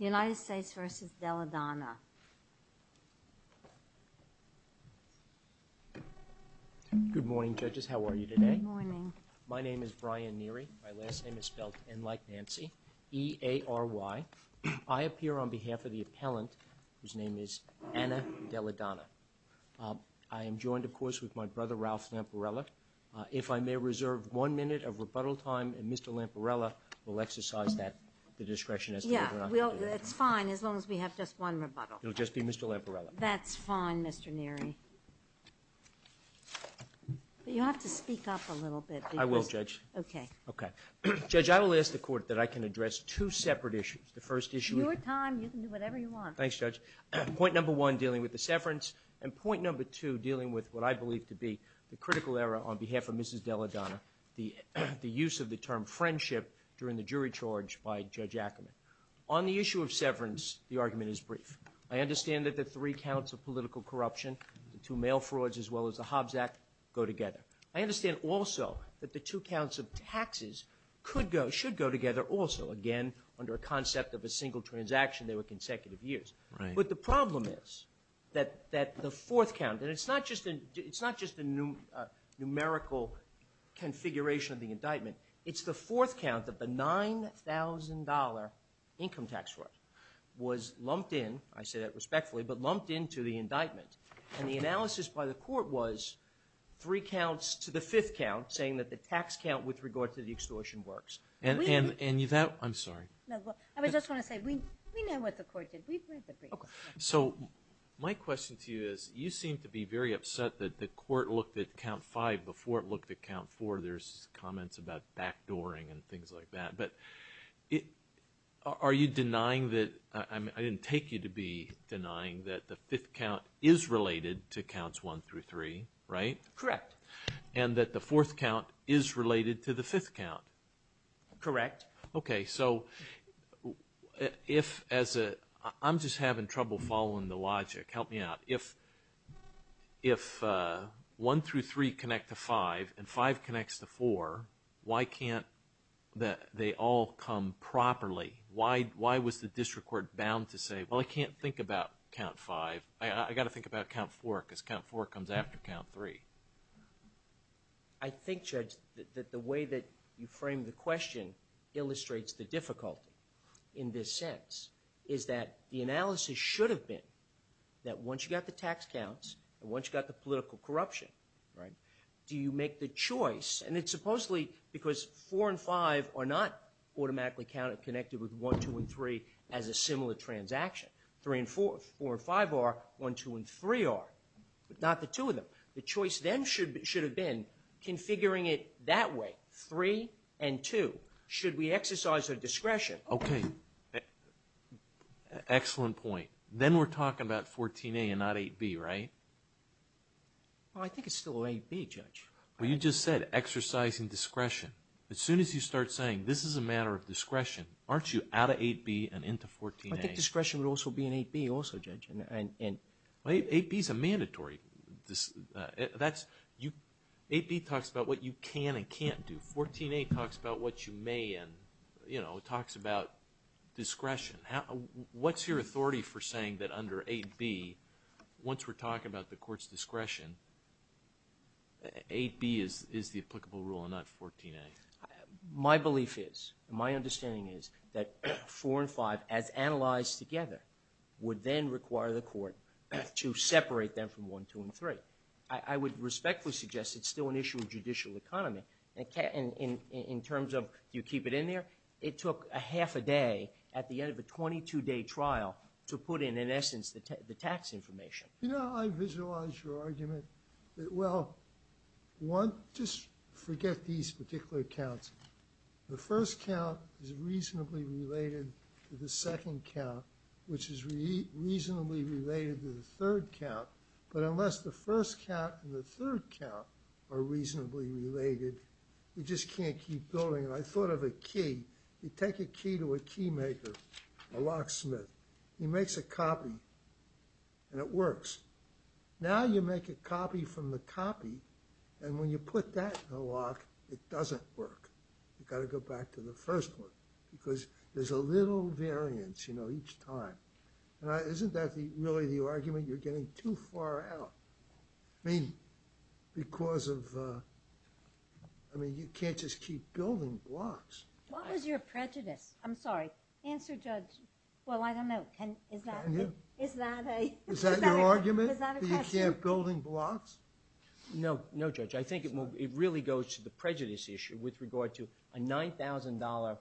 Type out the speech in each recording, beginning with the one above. Good morning, judges. How are you today? My name is Brian Neary. My last name is spelt N like Nancy, E-A-R-Y. I appear on behalf of the appellant whose name is Anna Delladonna. I am joined, of course, with my brother Ralph Lamparella. If I may reserve one minute of rebuttal time, and Mr. Lamparella will exercise that discretion as to whether or not to do so, as long as we have just one rebuttal. It'll just be Mr. Lamparella. That's fine, Mr. Neary. But you have to speak up a little bit. I will, Judge. Okay. Okay. Judge, I will ask the Court that I can address two separate issues. The first issue is... Your time. You can do whatever you want. Thanks, Judge. Point number one, dealing with the severance, and point number two, dealing with what I believe to be the critical error on behalf of Mrs. Delladonna, the use of the term friendship during the jury charge by Judge Ackerman. On the issue of severance, the argument is brief. I understand that the three counts of political corruption, the two mail frauds as well as the Hobbs Act, go together. I understand also that the two counts of taxes could go, should go together also, again, under a concept of a single transaction. They were consecutive years. Right. But the problem is that the fourth count, and it's not just a numerical configuration of the indictment, it's the $9,000 income tax fraud, was lumped in, I say that respectfully, but lumped into the indictment. And the analysis by the Court was three counts to the fifth count, saying that the tax count with regard to the extortion works. And you've had... I'm sorry. No, well, I was just going to say, we know what the Court did. We've read the brief. Okay. So my question to you is, you seem to be very upset that the Court looked at count five before it looked at count four. There's comments about backdooring and things like that. But are you denying that... I didn't take you to be denying that the fifth count is related to counts one through three, right? Correct. And that the fourth count is related to the fifth count? Correct. Okay. So if, as a... I'm just having trouble following the logic. Help me out. If one through three connect to five, and five connects to four, why can't they all come properly? Why was the District Court bound to say, well, I can't think about count five. I've got to think about count four, because count four comes after count three. I think, Judge, that the way that you framed the question illustrates the difficulty in this sense, is that the analysis should have been that once you got the tax counts, and once you got the political corruption, right, do you make the choice? And it's supposedly because four and five are not automatically counted, connected with one, two, and three as a similar transaction. Three and four. Four and five are. One, two, and three are. Not the two of them. The choice then should have been configuring it that way. Three and two. Should we exercise our discretion? Okay. Excellent point. Then we're talking about 14A and not 8B, right? Well, I think it's still 8B, Judge. Well, you just said exercising discretion. As soon as you start saying this is a matter of discretion, aren't you out of 8B and into 14A? I think discretion would also be in 8B also, Judge. 8B is a mandatory... 8B talks about what you can and can't do. 14A talks about what you may and, you know, talks about discretion. What's your authority for saying that under 8B, once we're talking about the court's discretion, 8B is the applicable rule and not 14A? My belief is, my understanding is that four and five, as analyzed together, would then require the court to separate them from one, two, and three. I would respectfully suggest it's still an issue of judicial economy. In terms of, do you keep it in there? It took a half a day at the end of a 22-day trial to put in, in essence, the tax information. You know, I visualize your argument that, well, one, just forget these particular counts. The first count is reasonably related to the second count. But unless the first count and the third count are reasonably related, you just can't keep building. And I thought of a key. You take a key to a keymaker, a locksmith. He makes a copy, and it works. Now you make a copy from the copy, and when you put that in a lock, it doesn't work. You've got to go back to the first one, because there's a little variance, you know, each time. Isn't that really the argument you're getting too far out? I mean, because of, I mean, you can't just keep building blocks. What was your prejudice? I'm sorry. Answer, Judge. Well, I don't know. Can, is that a, is that a, is that a question? Is that your argument, that you can't building blocks? No, no, Judge. I think it really goes to the prejudice issue with regard to a $9,000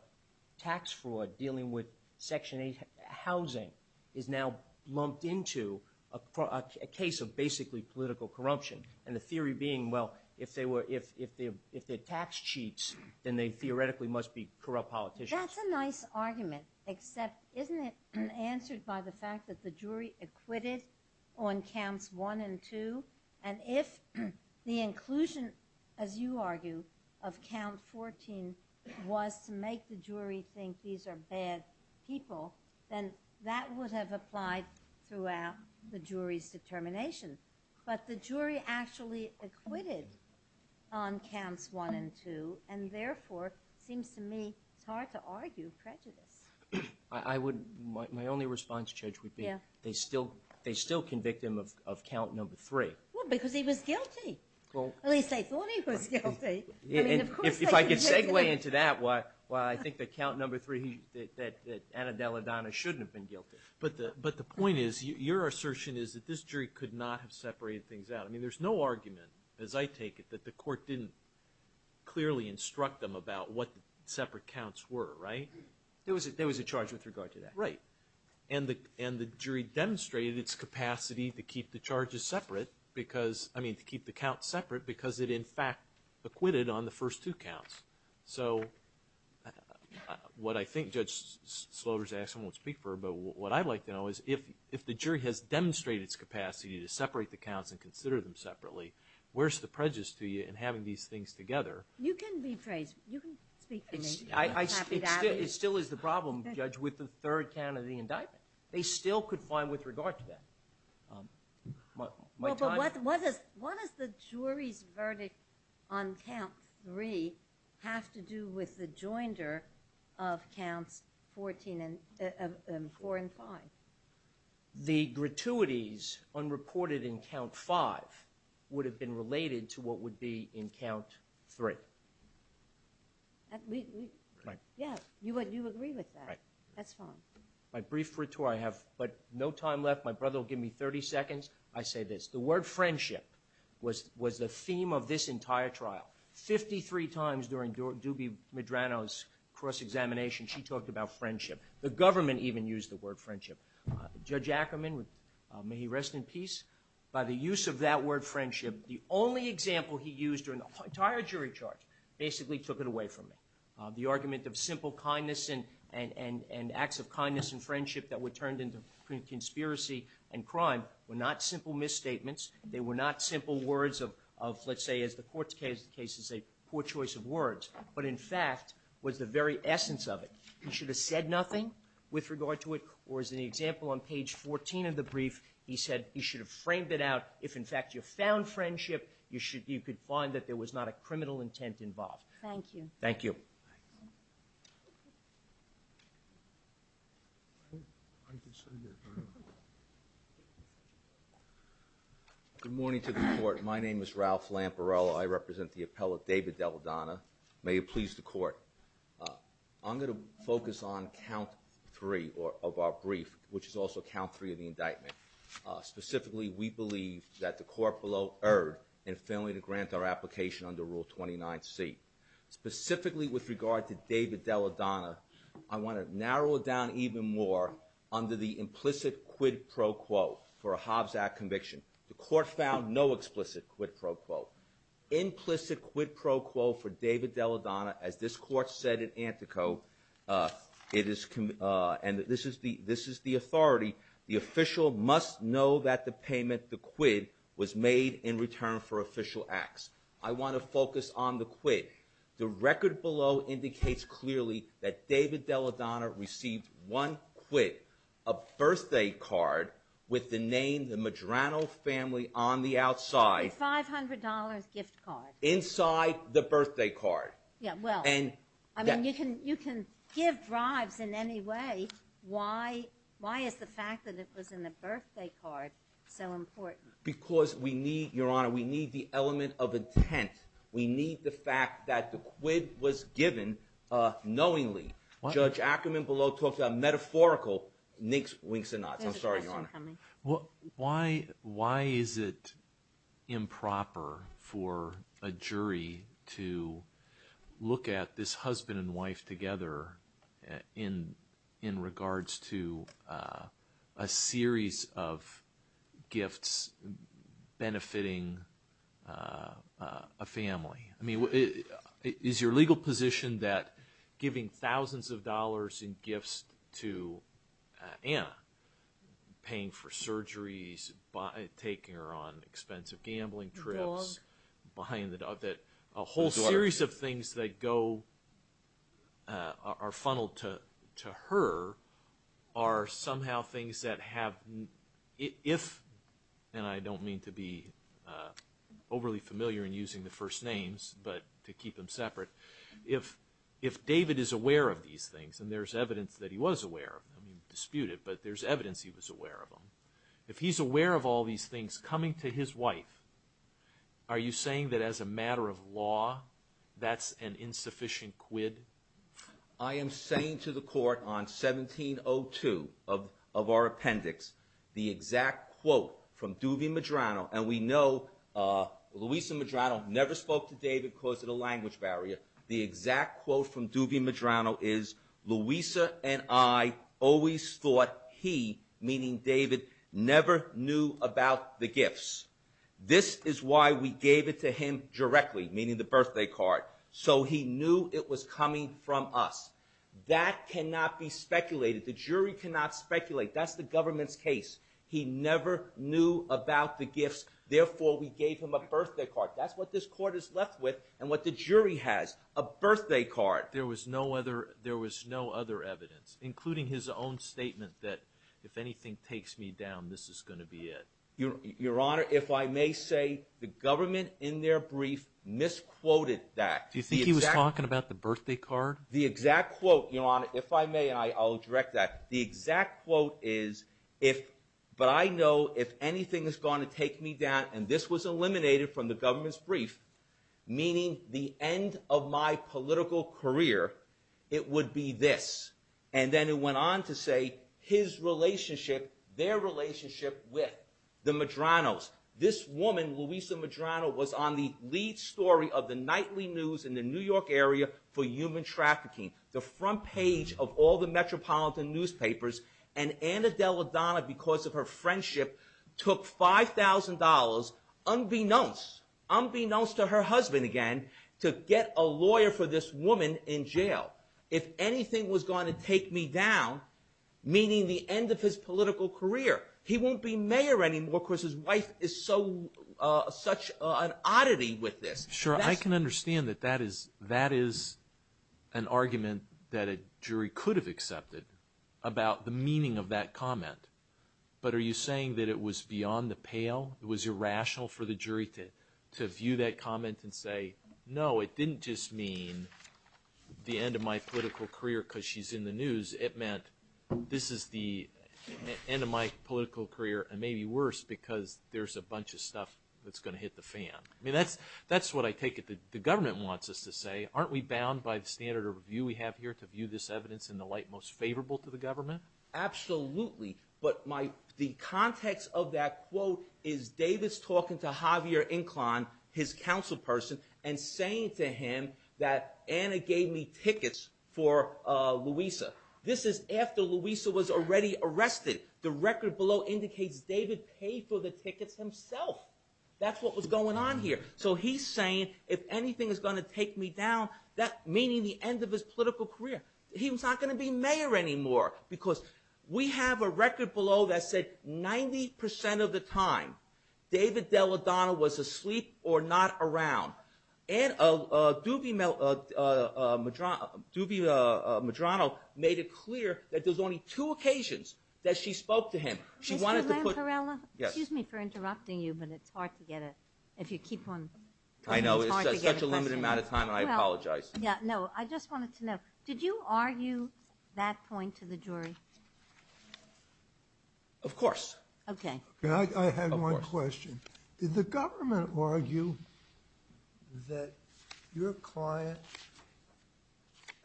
tax fraud dealing with Section 8 housing is now lumped into a case of basically political corruption. And the theory being, well, if they were, if they're tax cheats, then they theoretically must be corrupt politicians. That's a nice argument, except isn't it answered by the fact that the jury acquitted on counts 1 and 2? And if the inclusion, as you argue, of count 14 was to make the jury think these are bad people, then that would have applied throughout the jury's determination. But the jury actually acquitted on counts 1 and 2, and therefore, seems to me, it's hard to argue prejudice. I would, my only response, Judge, would be they still, they still convict him of count number 3. Well, because he was guilty. At least they thought he was guilty. I mean, of course they convicted him. If I could segue into that, why I think that count number 3, that Anna Della Donna shouldn't have been guilty. But the point is, your assertion is that this jury could not have separated things out. I mean, there's no argument, as I take it, that the court didn't clearly instruct them about what the separate counts were, right? There was a charge with regard to that. Right. And the jury demonstrated its capacity to keep the charges separate because, I mean, to keep the counts separate because it, in fact, acquitted on the first two counts. So, what I think Judge Slover's asking won't speak for, but what I'd like to know is, if the jury has demonstrated its capacity to separate the counts and consider them separately, where's the prejudice to you in having these things together? You can be praised. You can speak for me. It still is the problem, Judge, with the third count of the indictment. They still could find with regard to that. Well, but what does the jury's verdict on count 3 have to do with the joinder of counts 4 and 5? The gratuities unreported in count 5 would have been related to what would be in count 3. Yeah, you agree with that. That's fine. My brief retort, I have but no time left. My brother will give me 30 seconds. I say this. The word friendship was the theme of this entire trial. Fifty-three times during Dubie Medrano's cross-examination, she talked about friendship. The government even used the word friendship. Judge Ackerman, may he rest in peace, by the use of that word friendship, the only example he used during the entire jury charge basically took it away from me. The argument of simple kindness and acts of kindness and friendship that were turned into conspiracy and crime were not simple misstatements. They were not simple words of, let's say, as the court's case is a poor choice of words, but in fact was the very essence of it. He should have said nothing with regard to it, or as in the example on page 14 of the brief, he said he should have framed it out. If, in fact, you found friendship, you could find that there was not a criminal intent involved. Thank you. Thank you. Good morning to the court. My name is Ralph Lamparello. I represent the appellate David Delladonna. May it please the court. I'm going to focus on count three of our brief, which is also count three of the indictment. Specifically, we believe that the court below erred in failing to grant our application under Rule 29C. Specifically with regard to David Delladonna, I want to narrow it down even more under the implicit quid pro quo for a Hobbs Act conviction. The court found no explicit quid pro quo. Implicit quid pro quo for David Delladonna, as this court said in Antico, and this is the authority. The official must know that the payment, the quid, was made in return for official acts. I want to focus on the quid. The record below indicates clearly that David Delladonna received one quid, a birthday card with the name the Medrano family on the outside. A $500 gift card. Inside the birthday card. Yeah, well, I mean you can give bribes in any way. Why is the fact that it was in the birthday card so important? Because we need, Your Honor, we need the element of intent. We need the fact that the quid was given knowingly. Judge Ackerman below talked about metaphorical winks and nods. I'm sorry, Your Honor. Why is it improper for a jury to look at this husband and wife together in regards to a series of gifts benefiting a family? Is your legal position that giving thousands of dollars in gifts to Anna, paying for surgeries, taking her on expensive gambling trips, buying the dog, that a whole series of things that go, are funneled to her, are somehow things that have, if, and I don't mean to be overly familiar in using the first names, but to keep them separate, if David is aware of these things, and there's evidence that he was aware of them, he disputed, but there's evidence he was aware of them. If he's aware of all these things coming to his wife, are you saying that as a matter of law that's an insufficient quid? I am saying to the court on 1702 of our appendix, the exact quote from Duvy Medrano, and we know Louisa Medrano never spoke to David because of the language barrier. The exact quote from Duvy Medrano is, Louisa and I always thought he, meaning David, never knew about the gifts. This is why we gave it to him directly, meaning the birthday card. So he knew it was coming from us. That cannot be speculated. The jury cannot speculate. That's the government's case. He never knew about the gifts, therefore we gave him a birthday card. That's what this court is left with, and what the jury has, a birthday card. There was no other evidence, including his own statement that, if anything takes me down, this is going to be it. Your Honor, if I may say, the government in their brief misquoted that. Do you think he was talking about the birthday card? The exact quote, Your Honor, if I may, and I'll direct that, the exact quote is, but I know if anything is going to take me down, and this was eliminated from the government's brief, meaning the end of my political career, it would be this. And then it went on to say, his relationship, their relationship with the Medranos. This woman, Louisa Medrano, was on the lead story of the nightly news in the New York area for human trafficking, the front page of all the metropolitan newspapers, and Anna Della Donna, because of her friendship, took $5,000, unbeknownst to her husband again, to get a lawyer for this woman in jail. If anything was going to take me down, meaning the end of his political career, he won't be mayor anymore because his wife is such an oddity with this. Sure, I can understand that that is an argument that a jury could have accepted about the meaning of that comment, but are you saying that it was beyond the pale? It was irrational for the jury to view that comment and say, no, it didn't just mean the end of my political career because she's in the news, it meant this is the end of my political career and maybe worse because there's a bunch of stuff that's going to hit the fan. I mean, that's what I take it the government wants us to say. Aren't we bound by the standard of view we have here to view this evidence in the light most favorable to the government? Absolutely, but the context of that quote is Davis talking to Javier Inclan, his council person, and saying to him that Anna gave me tickets for Louisa. This is after Louisa was already arrested. The record below indicates David paid for the tickets himself. That's what was going on here. So he's saying if anything is going to take me down, meaning the end of his political career, he's not going to be mayor anymore because we have a record below that said 90% of the time David Delladonna was asleep or not around. And Doobie Medrano made it clear that there's only two occasions that she spoke to him. Mr. Lamparella, excuse me for interrupting you, but it's hard to get it if you keep on. I know, it's such a limited amount of time and I apologize. No, I just wanted to know, did you argue that point to the jury? Of course. Okay. I had one question. Did the government argue that your client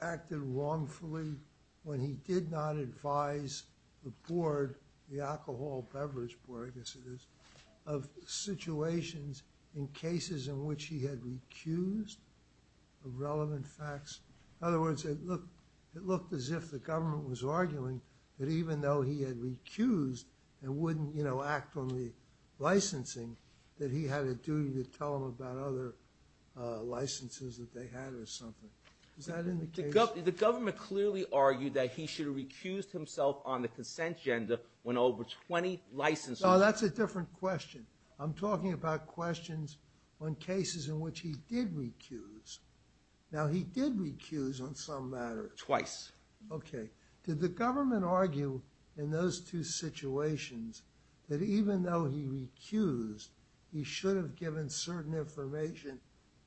acted wrongfully when he did not advise the board, the alcohol beverage board I guess it is, of situations in cases in which he had recused irrelevant facts? In other words, it looked as if the government was arguing that even though he had recused and wouldn't, you know, act on the licensing that he had a duty to tell them about other licenses that they had or something. Is that in the case? The government clearly argued that he should have recused himself on the consent agenda when over 20 licensors… No, that's a different question. I'm talking about questions on cases in which he did recuse. Now, he did recuse on some matter. Twice. Okay. Did the government argue in those two situations that even though he recused, he should have given certain information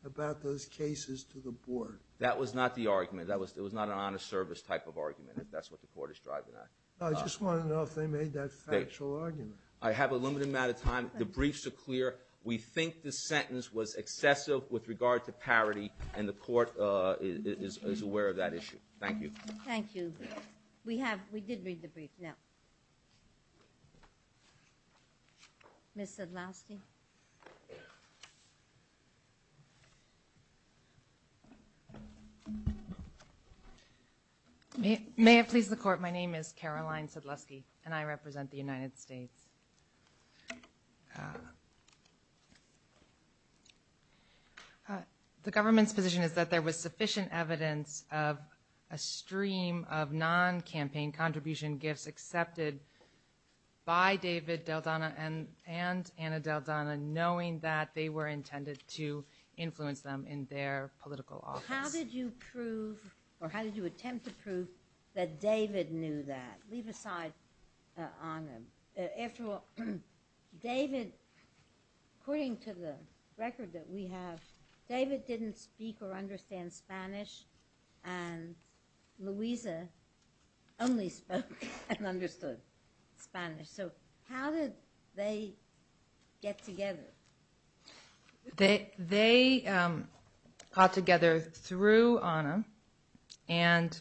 about those cases to the board? That was not the argument. That was not an honest service type of argument if that's what the court is driving at. I just wanted to know if they made that factual argument. I have a limited amount of time. The briefs are clear. We think the sentence was excessive with regard to parity, and the court is aware of that issue. Thank you. Thank you. We did read the brief now. Ms. Sedlowski? May it please the Court, my name is Caroline Sedlowski, and I represent the United States. The government's position is that there was sufficient evidence of a stream of non-campaign contribution gifts accepted by David Daldana and Anna Daldana knowing that they were intended to influence them in their political office. How did you prove or how did you attempt to prove that David knew that? I'll leave aside Anna. After all, David, according to the record that we have, David didn't speak or understand Spanish, and Louisa only spoke and understood Spanish. So how did they get together? They got together through Anna and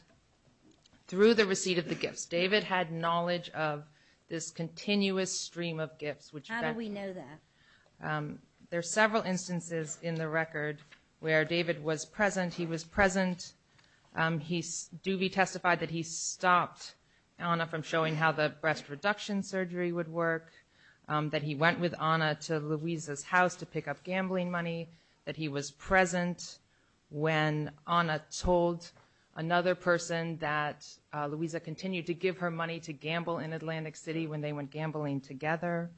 through the receipt of the gifts. David had knowledge of this continuous stream of gifts. How do we know that? There are several instances in the record where David was present. He was present. Doobie testified that he stopped Anna from showing how the breast reduction surgery would work, that he went with Anna to Louisa's house to pick up gambling money, that he was present when Anna told another person that Louisa continued to give her money to gamble in Atlantic City when they went gambling together,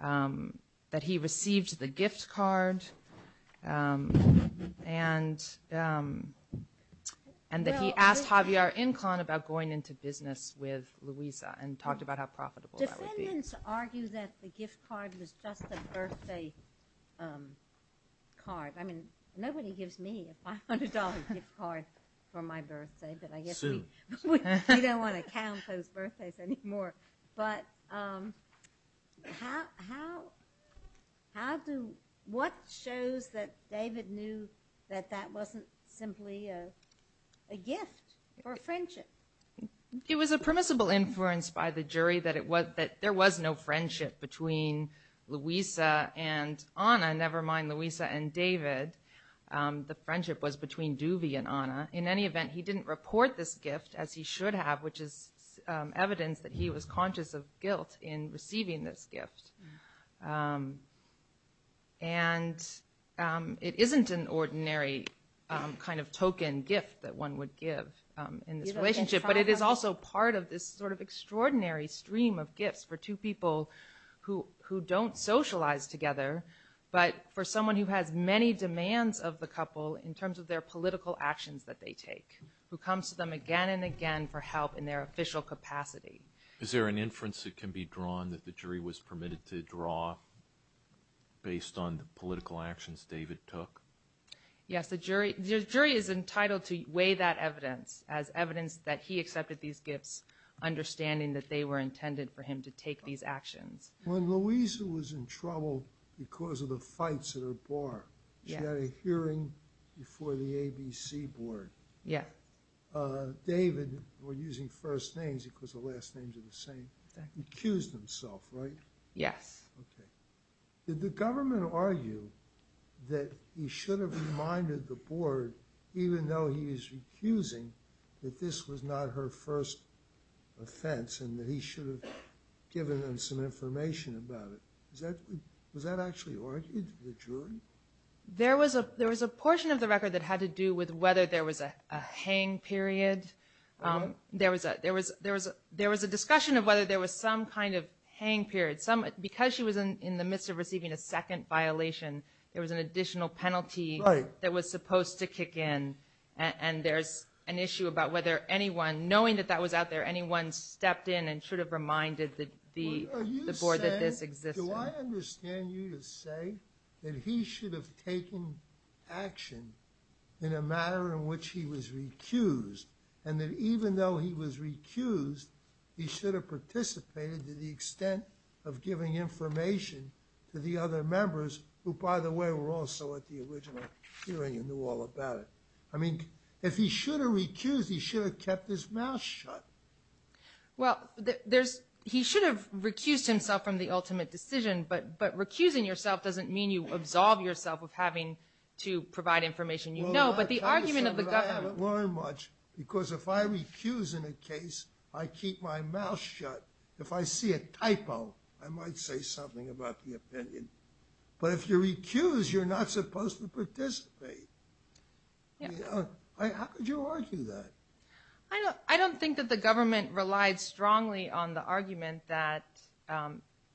that he received the gift card, and that he asked Javier Incan about going into business with Louisa and talked about how profitable that would be. Defendants argue that the gift card was just a birthday card. I mean, nobody gives me a $500 gift card for my birthday, but I guess we don't want to count those birthdays anymore. But what shows that David knew that that wasn't simply a gift or a friendship? It was a permissible inference by the jury that there was no friendship between Louisa and Anna, never mind Louisa and David. The friendship was between Doobie and Anna. In any event, he didn't report this gift, as he should have, which is evidence that he was conscious of guilt in receiving this gift. And it isn't an ordinary kind of token gift that one would give in this relationship, but it is also part of this sort of extraordinary stream of gifts for two people who don't socialize together, but for someone who has many demands of the couple in terms of their political actions that they take, who comes to them again and again for help in their official capacity. Is there an inference that can be drawn that the jury was permitted to draw based on the political actions David took? Yes, the jury is entitled to weigh that evidence as evidence that he accepted these gifts, understanding that they were intended for him to take these actions. When Louisa was in trouble because of the fights at her bar, she had a hearing before the ABC board. David, we're using first names because the last names are the same, accused himself, right? Yes. Did the government argue that he should have reminded the board, even though he was recusing, that this was not her first offense and that he should have given them some information about it? Was that actually argued, the jury? There was a portion of the record that had to do with whether there was a hang period. There was a discussion of whether there was some kind of hang period. Because she was in the midst of receiving a second violation, there was an additional penalty that was supposed to kick in, and there's an issue about whether anyone, knowing that that was out there, anyone stepped in and should have reminded the board that this existed. Do I understand you to say that he should have taken action in a manner in which he was recused, and that even though he was recused, he should have participated to the extent of giving information to the other members who, by the way, were also at the original hearing and knew all about it? I mean, if he should have recused, he should have kept his mouth shut. Well, he should have recused himself from the ultimate decision, but recusing yourself doesn't mean you absolve yourself of having to provide information you know, but the argument of the government… Well, I'm not trying to say that I haven't learned much, because if I recuse in a case, I keep my mouth shut. If I see a typo, I might say something about the opinion. But if you recuse, you're not supposed to participate. How could you argue that? I don't think that the government relied strongly on the argument that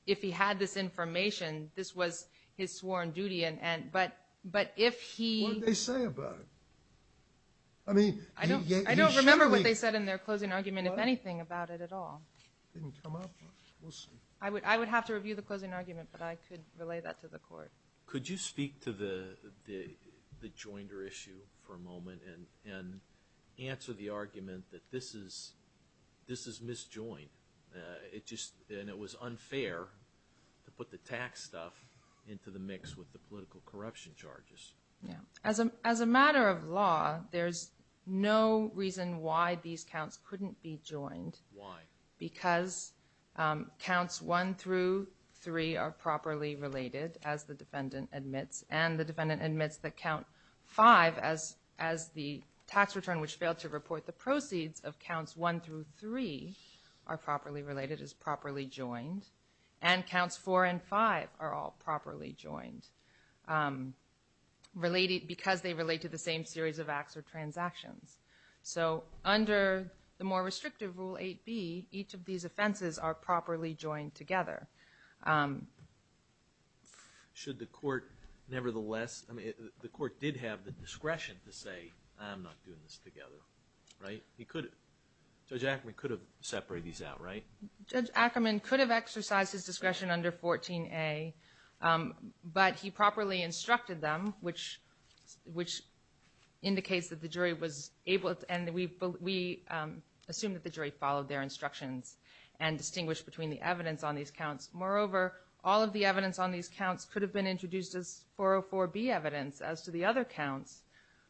if he had this information, this was his sworn duty, but if he… What did they say about it? I don't remember what they said in their closing argument, if anything, about it at all. It didn't come up. We'll see. I would have to review the closing argument, but I could relay that to the court. Could you speak to the Joinder issue for a moment and answer the argument that this is misjoined, and it was unfair to put the tax stuff into the mix with the political corruption charges? As a matter of law, there's no reason why these counts couldn't be joined. Why? Because counts 1 through 3 are properly related, as the defendant admits, and the defendant admits that count 5, as the tax return, which failed to report the proceeds of counts 1 through 3, are properly related, is properly joined, and counts 4 and 5 are all properly joined because they relate to the same series of acts or transactions. So under the more restrictive Rule 8b, each of these offenses are properly joined together. Should the court nevertheless… Wait, I'm not doing this together. Judge Ackerman could have separated these out, right? Judge Ackerman could have exercised his discretion under 14a, but he properly instructed them, which indicates that the jury was able to, and we assume that the jury followed their instructions and distinguished between the evidence on these counts. Moreover, all of the evidence on these counts could have been introduced as 404b evidence as to the other counts.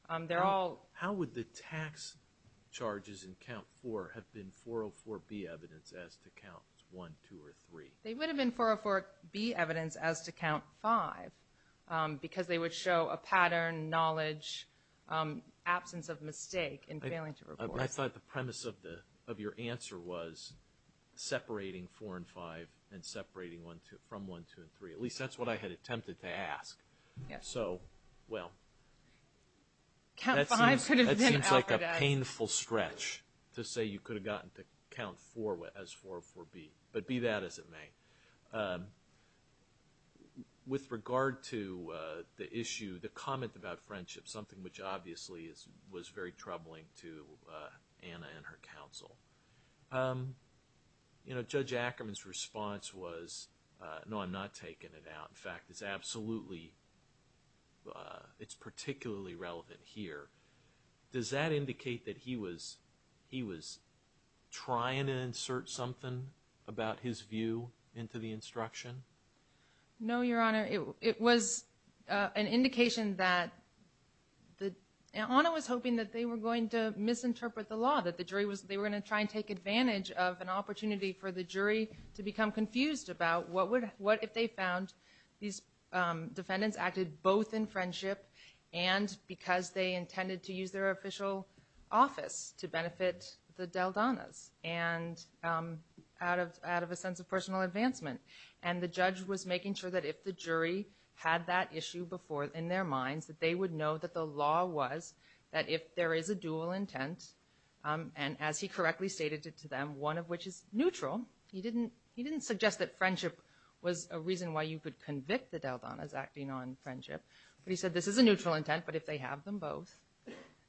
How would the tax charges in count 4 have been 404b evidence as to counts 1, 2, or 3? They would have been 404b evidence as to count 5 because they would show a pattern, knowledge, absence of mistake in failing to report. I thought the premise of your answer was separating 4 and 5 and separating from 1, 2, and 3. At least that's what I had attempted to ask. So, well, that seems like a painful stretch to say you could have gotten to count 4 as 404b, but be that as it may. With regard to the issue, the comment about friendship, something which obviously was very troubling to Anna and her counsel, Judge Ackerman's response was, no, I'm not taking it out. In fact, it's particularly relevant here. Does that indicate that he was trying to insert something about his view into the instruction? No, Your Honor. It was an indication that Anna was hoping that they were going to misinterpret the law, that they were going to try and take advantage of an opportunity for the jury to become confused about what if they found these defendants acted both in friendship and because they intended to use their official office to benefit the Daldanas out of a sense of personal advancement. And the judge was making sure that if the jury had that issue before in their minds, that they would know that the law was that if there is a dual intent, and as he correctly stated to them, one of which is neutral, he didn't suggest that friendship was a reason why you could convict the Daldanas acting on friendship, but he said this is a neutral intent, but if they have them both,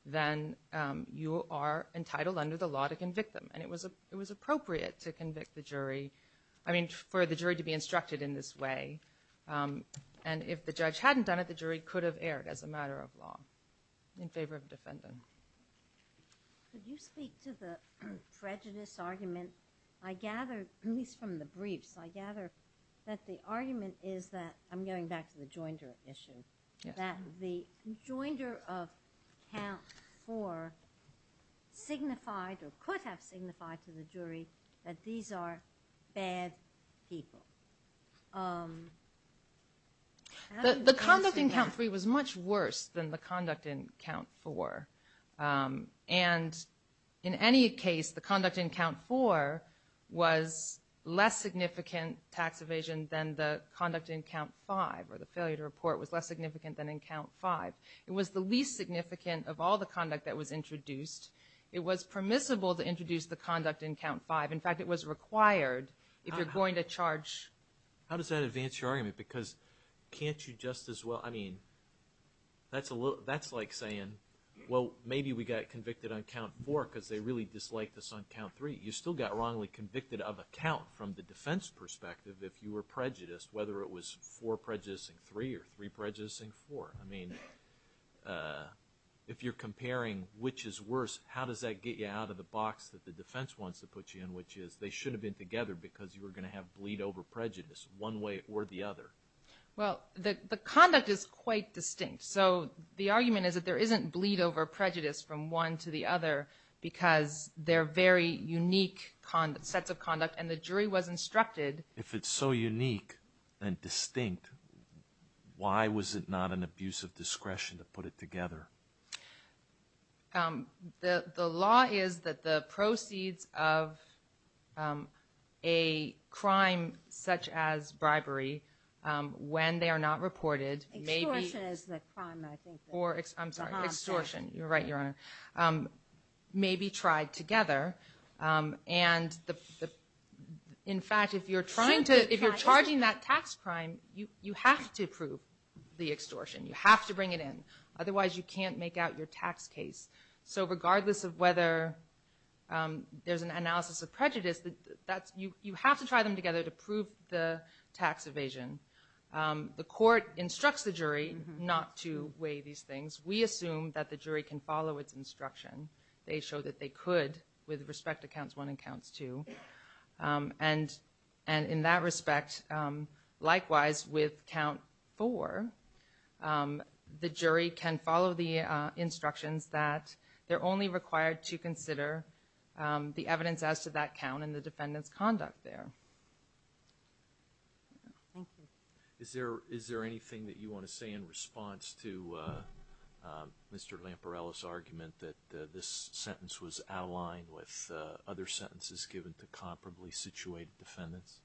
then you are entitled under the law to convict them. And it was appropriate to convict the jury, I mean for the jury to be instructed in this way. And if the judge hadn't done it, the jury could have erred as a matter of law in favor of defendant. Could you speak to the prejudice argument? I gather, at least from the briefs, I gather that the argument is that, I'm going back to the joinder issue, that the joinder of count four signified or could have signified to the jury that these are bad people. The conduct in count three was much worse than the conduct in count four. And in any case, the conduct in count four was less significant tax evasion than the conduct in count five, or the failure to report was less significant than in count five. It was the least significant of all the conduct that was introduced. It was permissible to introduce the conduct in count five. In fact, it was required if you're going to charge. How does that advance your argument? Because can't you just as well, I mean, that's like saying, well, maybe we got convicted on count four because they really disliked us on count three. You still got wrongly convicted of a count from the defense perspective if you were prejudiced, whether it was four prejudicing three or three prejudicing four. I mean, if you're comparing which is worse, how does that get you out of the box that the defense wants to put you in, which is they should have been together because you were going to have bleed over prejudice one way or the other. Well, the conduct is quite distinct. So the argument is that there isn't bleed over prejudice from one to the other because they're very unique sets of conduct, and the jury was instructed. If it's so unique and distinct, why was it not an abuse of discretion to put it together? The law is that the proceeds of a crime such as bribery when they are not reported may be… Extortion is the crime, I think. I'm sorry, extortion. You're right, Your Honor. May be tried together, and in fact, if you're charging that tax crime, you have to prove the extortion. You have to bring it in. Otherwise, you can't make out your tax case. So regardless of whether there's an analysis of prejudice, you have to try them together to prove the tax evasion. The court instructs the jury not to weigh these things. We assume that the jury can follow its instruction. They show that they could with respect to counts one and counts two. And in that respect, likewise with count four, the jury can follow the instructions that they're only required to consider the evidence as to that count and the defendant's conduct there. Thank you. Is there anything that you want to say in response to Mr. Lamparello's argument that this sentence was out of line with other sentences given to comparably situated defendants?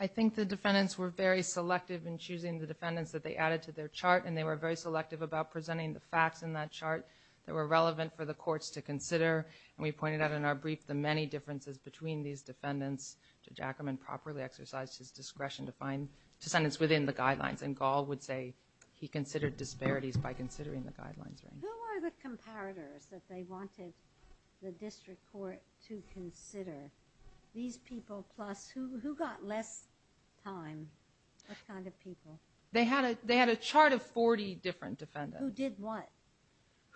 I think the defendants were very selective in choosing the defendants that they added to their chart, and they were very selective about presenting the facts in that chart that were relevant for the courts to consider. And we pointed out in our brief the many differences between these defendants. Judge Ackerman properly exercised his discretion to find descendants within the guidelines, and Gall would say he considered disparities by considering the guidelines range. Who are the comparators that they wanted the district court to consider? These people plus who got less time? What kind of people? They had a chart of 40 different defendants. Who did what?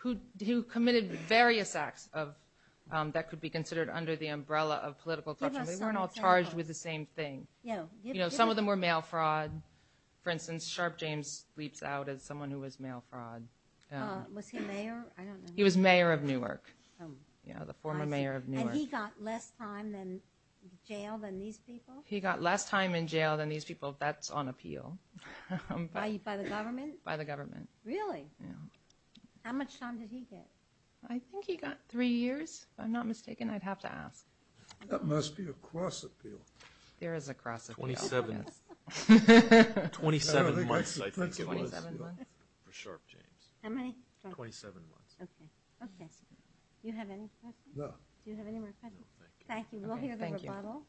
Who committed various acts that could be considered under the umbrella of political question. They weren't all charged with the same thing. Some of them were mail fraud. For instance, Sharp James leaps out as someone who was mail fraud. Was he mayor? He was mayor of Newark, the former mayor of Newark. And he got less time in jail than these people? He got less time in jail than these people. That's on appeal. By the government? By the government. Really? Yeah. How much time did he get? I think he got three years, if I'm not mistaken. I'd have to ask. That must be a cross appeal. There is a cross appeal. 27 months, I think it was. 27 months? For Sharp James. How many? 27 months. Okay. Okay. Do you have any questions? No. Do you have any more questions? No, thank you. Thank you. We'll hear the rebuttal.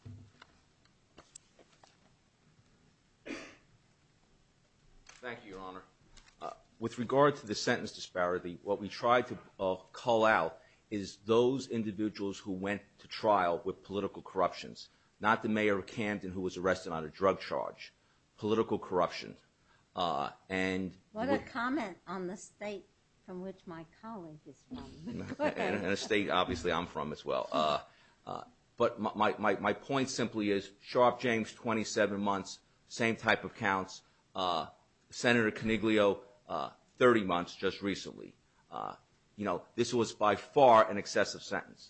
Thank you, Your Honor. With regard to the sentence disparity, what we tried to call out is those individuals who went to trial with political corruptions, not the mayor of Camden who was arrested on a drug charge, political corruption. What a comment on the state from which my colleague is from. And a state, obviously, I'm from as well. But my point simply is Sharp James, 27 months, same type of counts. Senator Coniglio, 30 months just recently. This was by far an excessive sentence.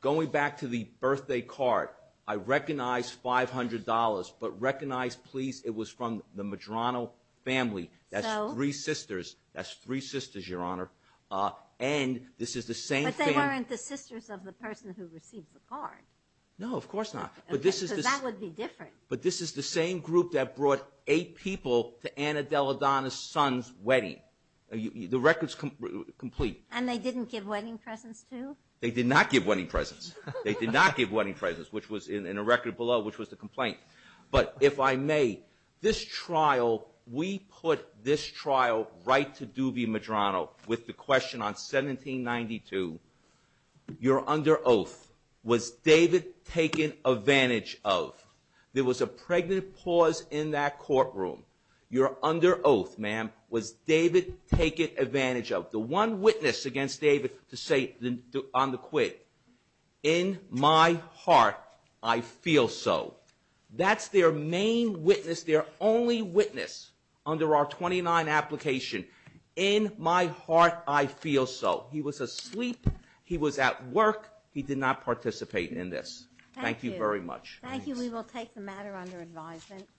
Going back to the birthday card, I recognize $500, but recognize, please, it was from the Medrano family. That's three sisters. That's three sisters, Your Honor. And this is the same family. But they weren't the sisters of the person who received the card. No, of course not. Because that would be different. But this is the same group that brought eight people to Anna Della Donna's son's wedding. The record's complete. And they didn't give wedding presents, too? They did not give wedding presents. They did not give wedding presents, which was in a record below, which was the complaint. But if I may, this trial, we put this trial right to Doobie Medrano with the question on 1792, you're under oath. Was David taken advantage of? There was a pregnant pause in that courtroom. You're under oath, ma'am. Was David taken advantage of? The one witness against David to say on the quid, in my heart I feel so. That's their main witness, their only witness under our 29 application, in my heart I feel so. He was asleep. He was at work. He did not participate in this. Thank you very much. Thank you. We will take the matter under advisement.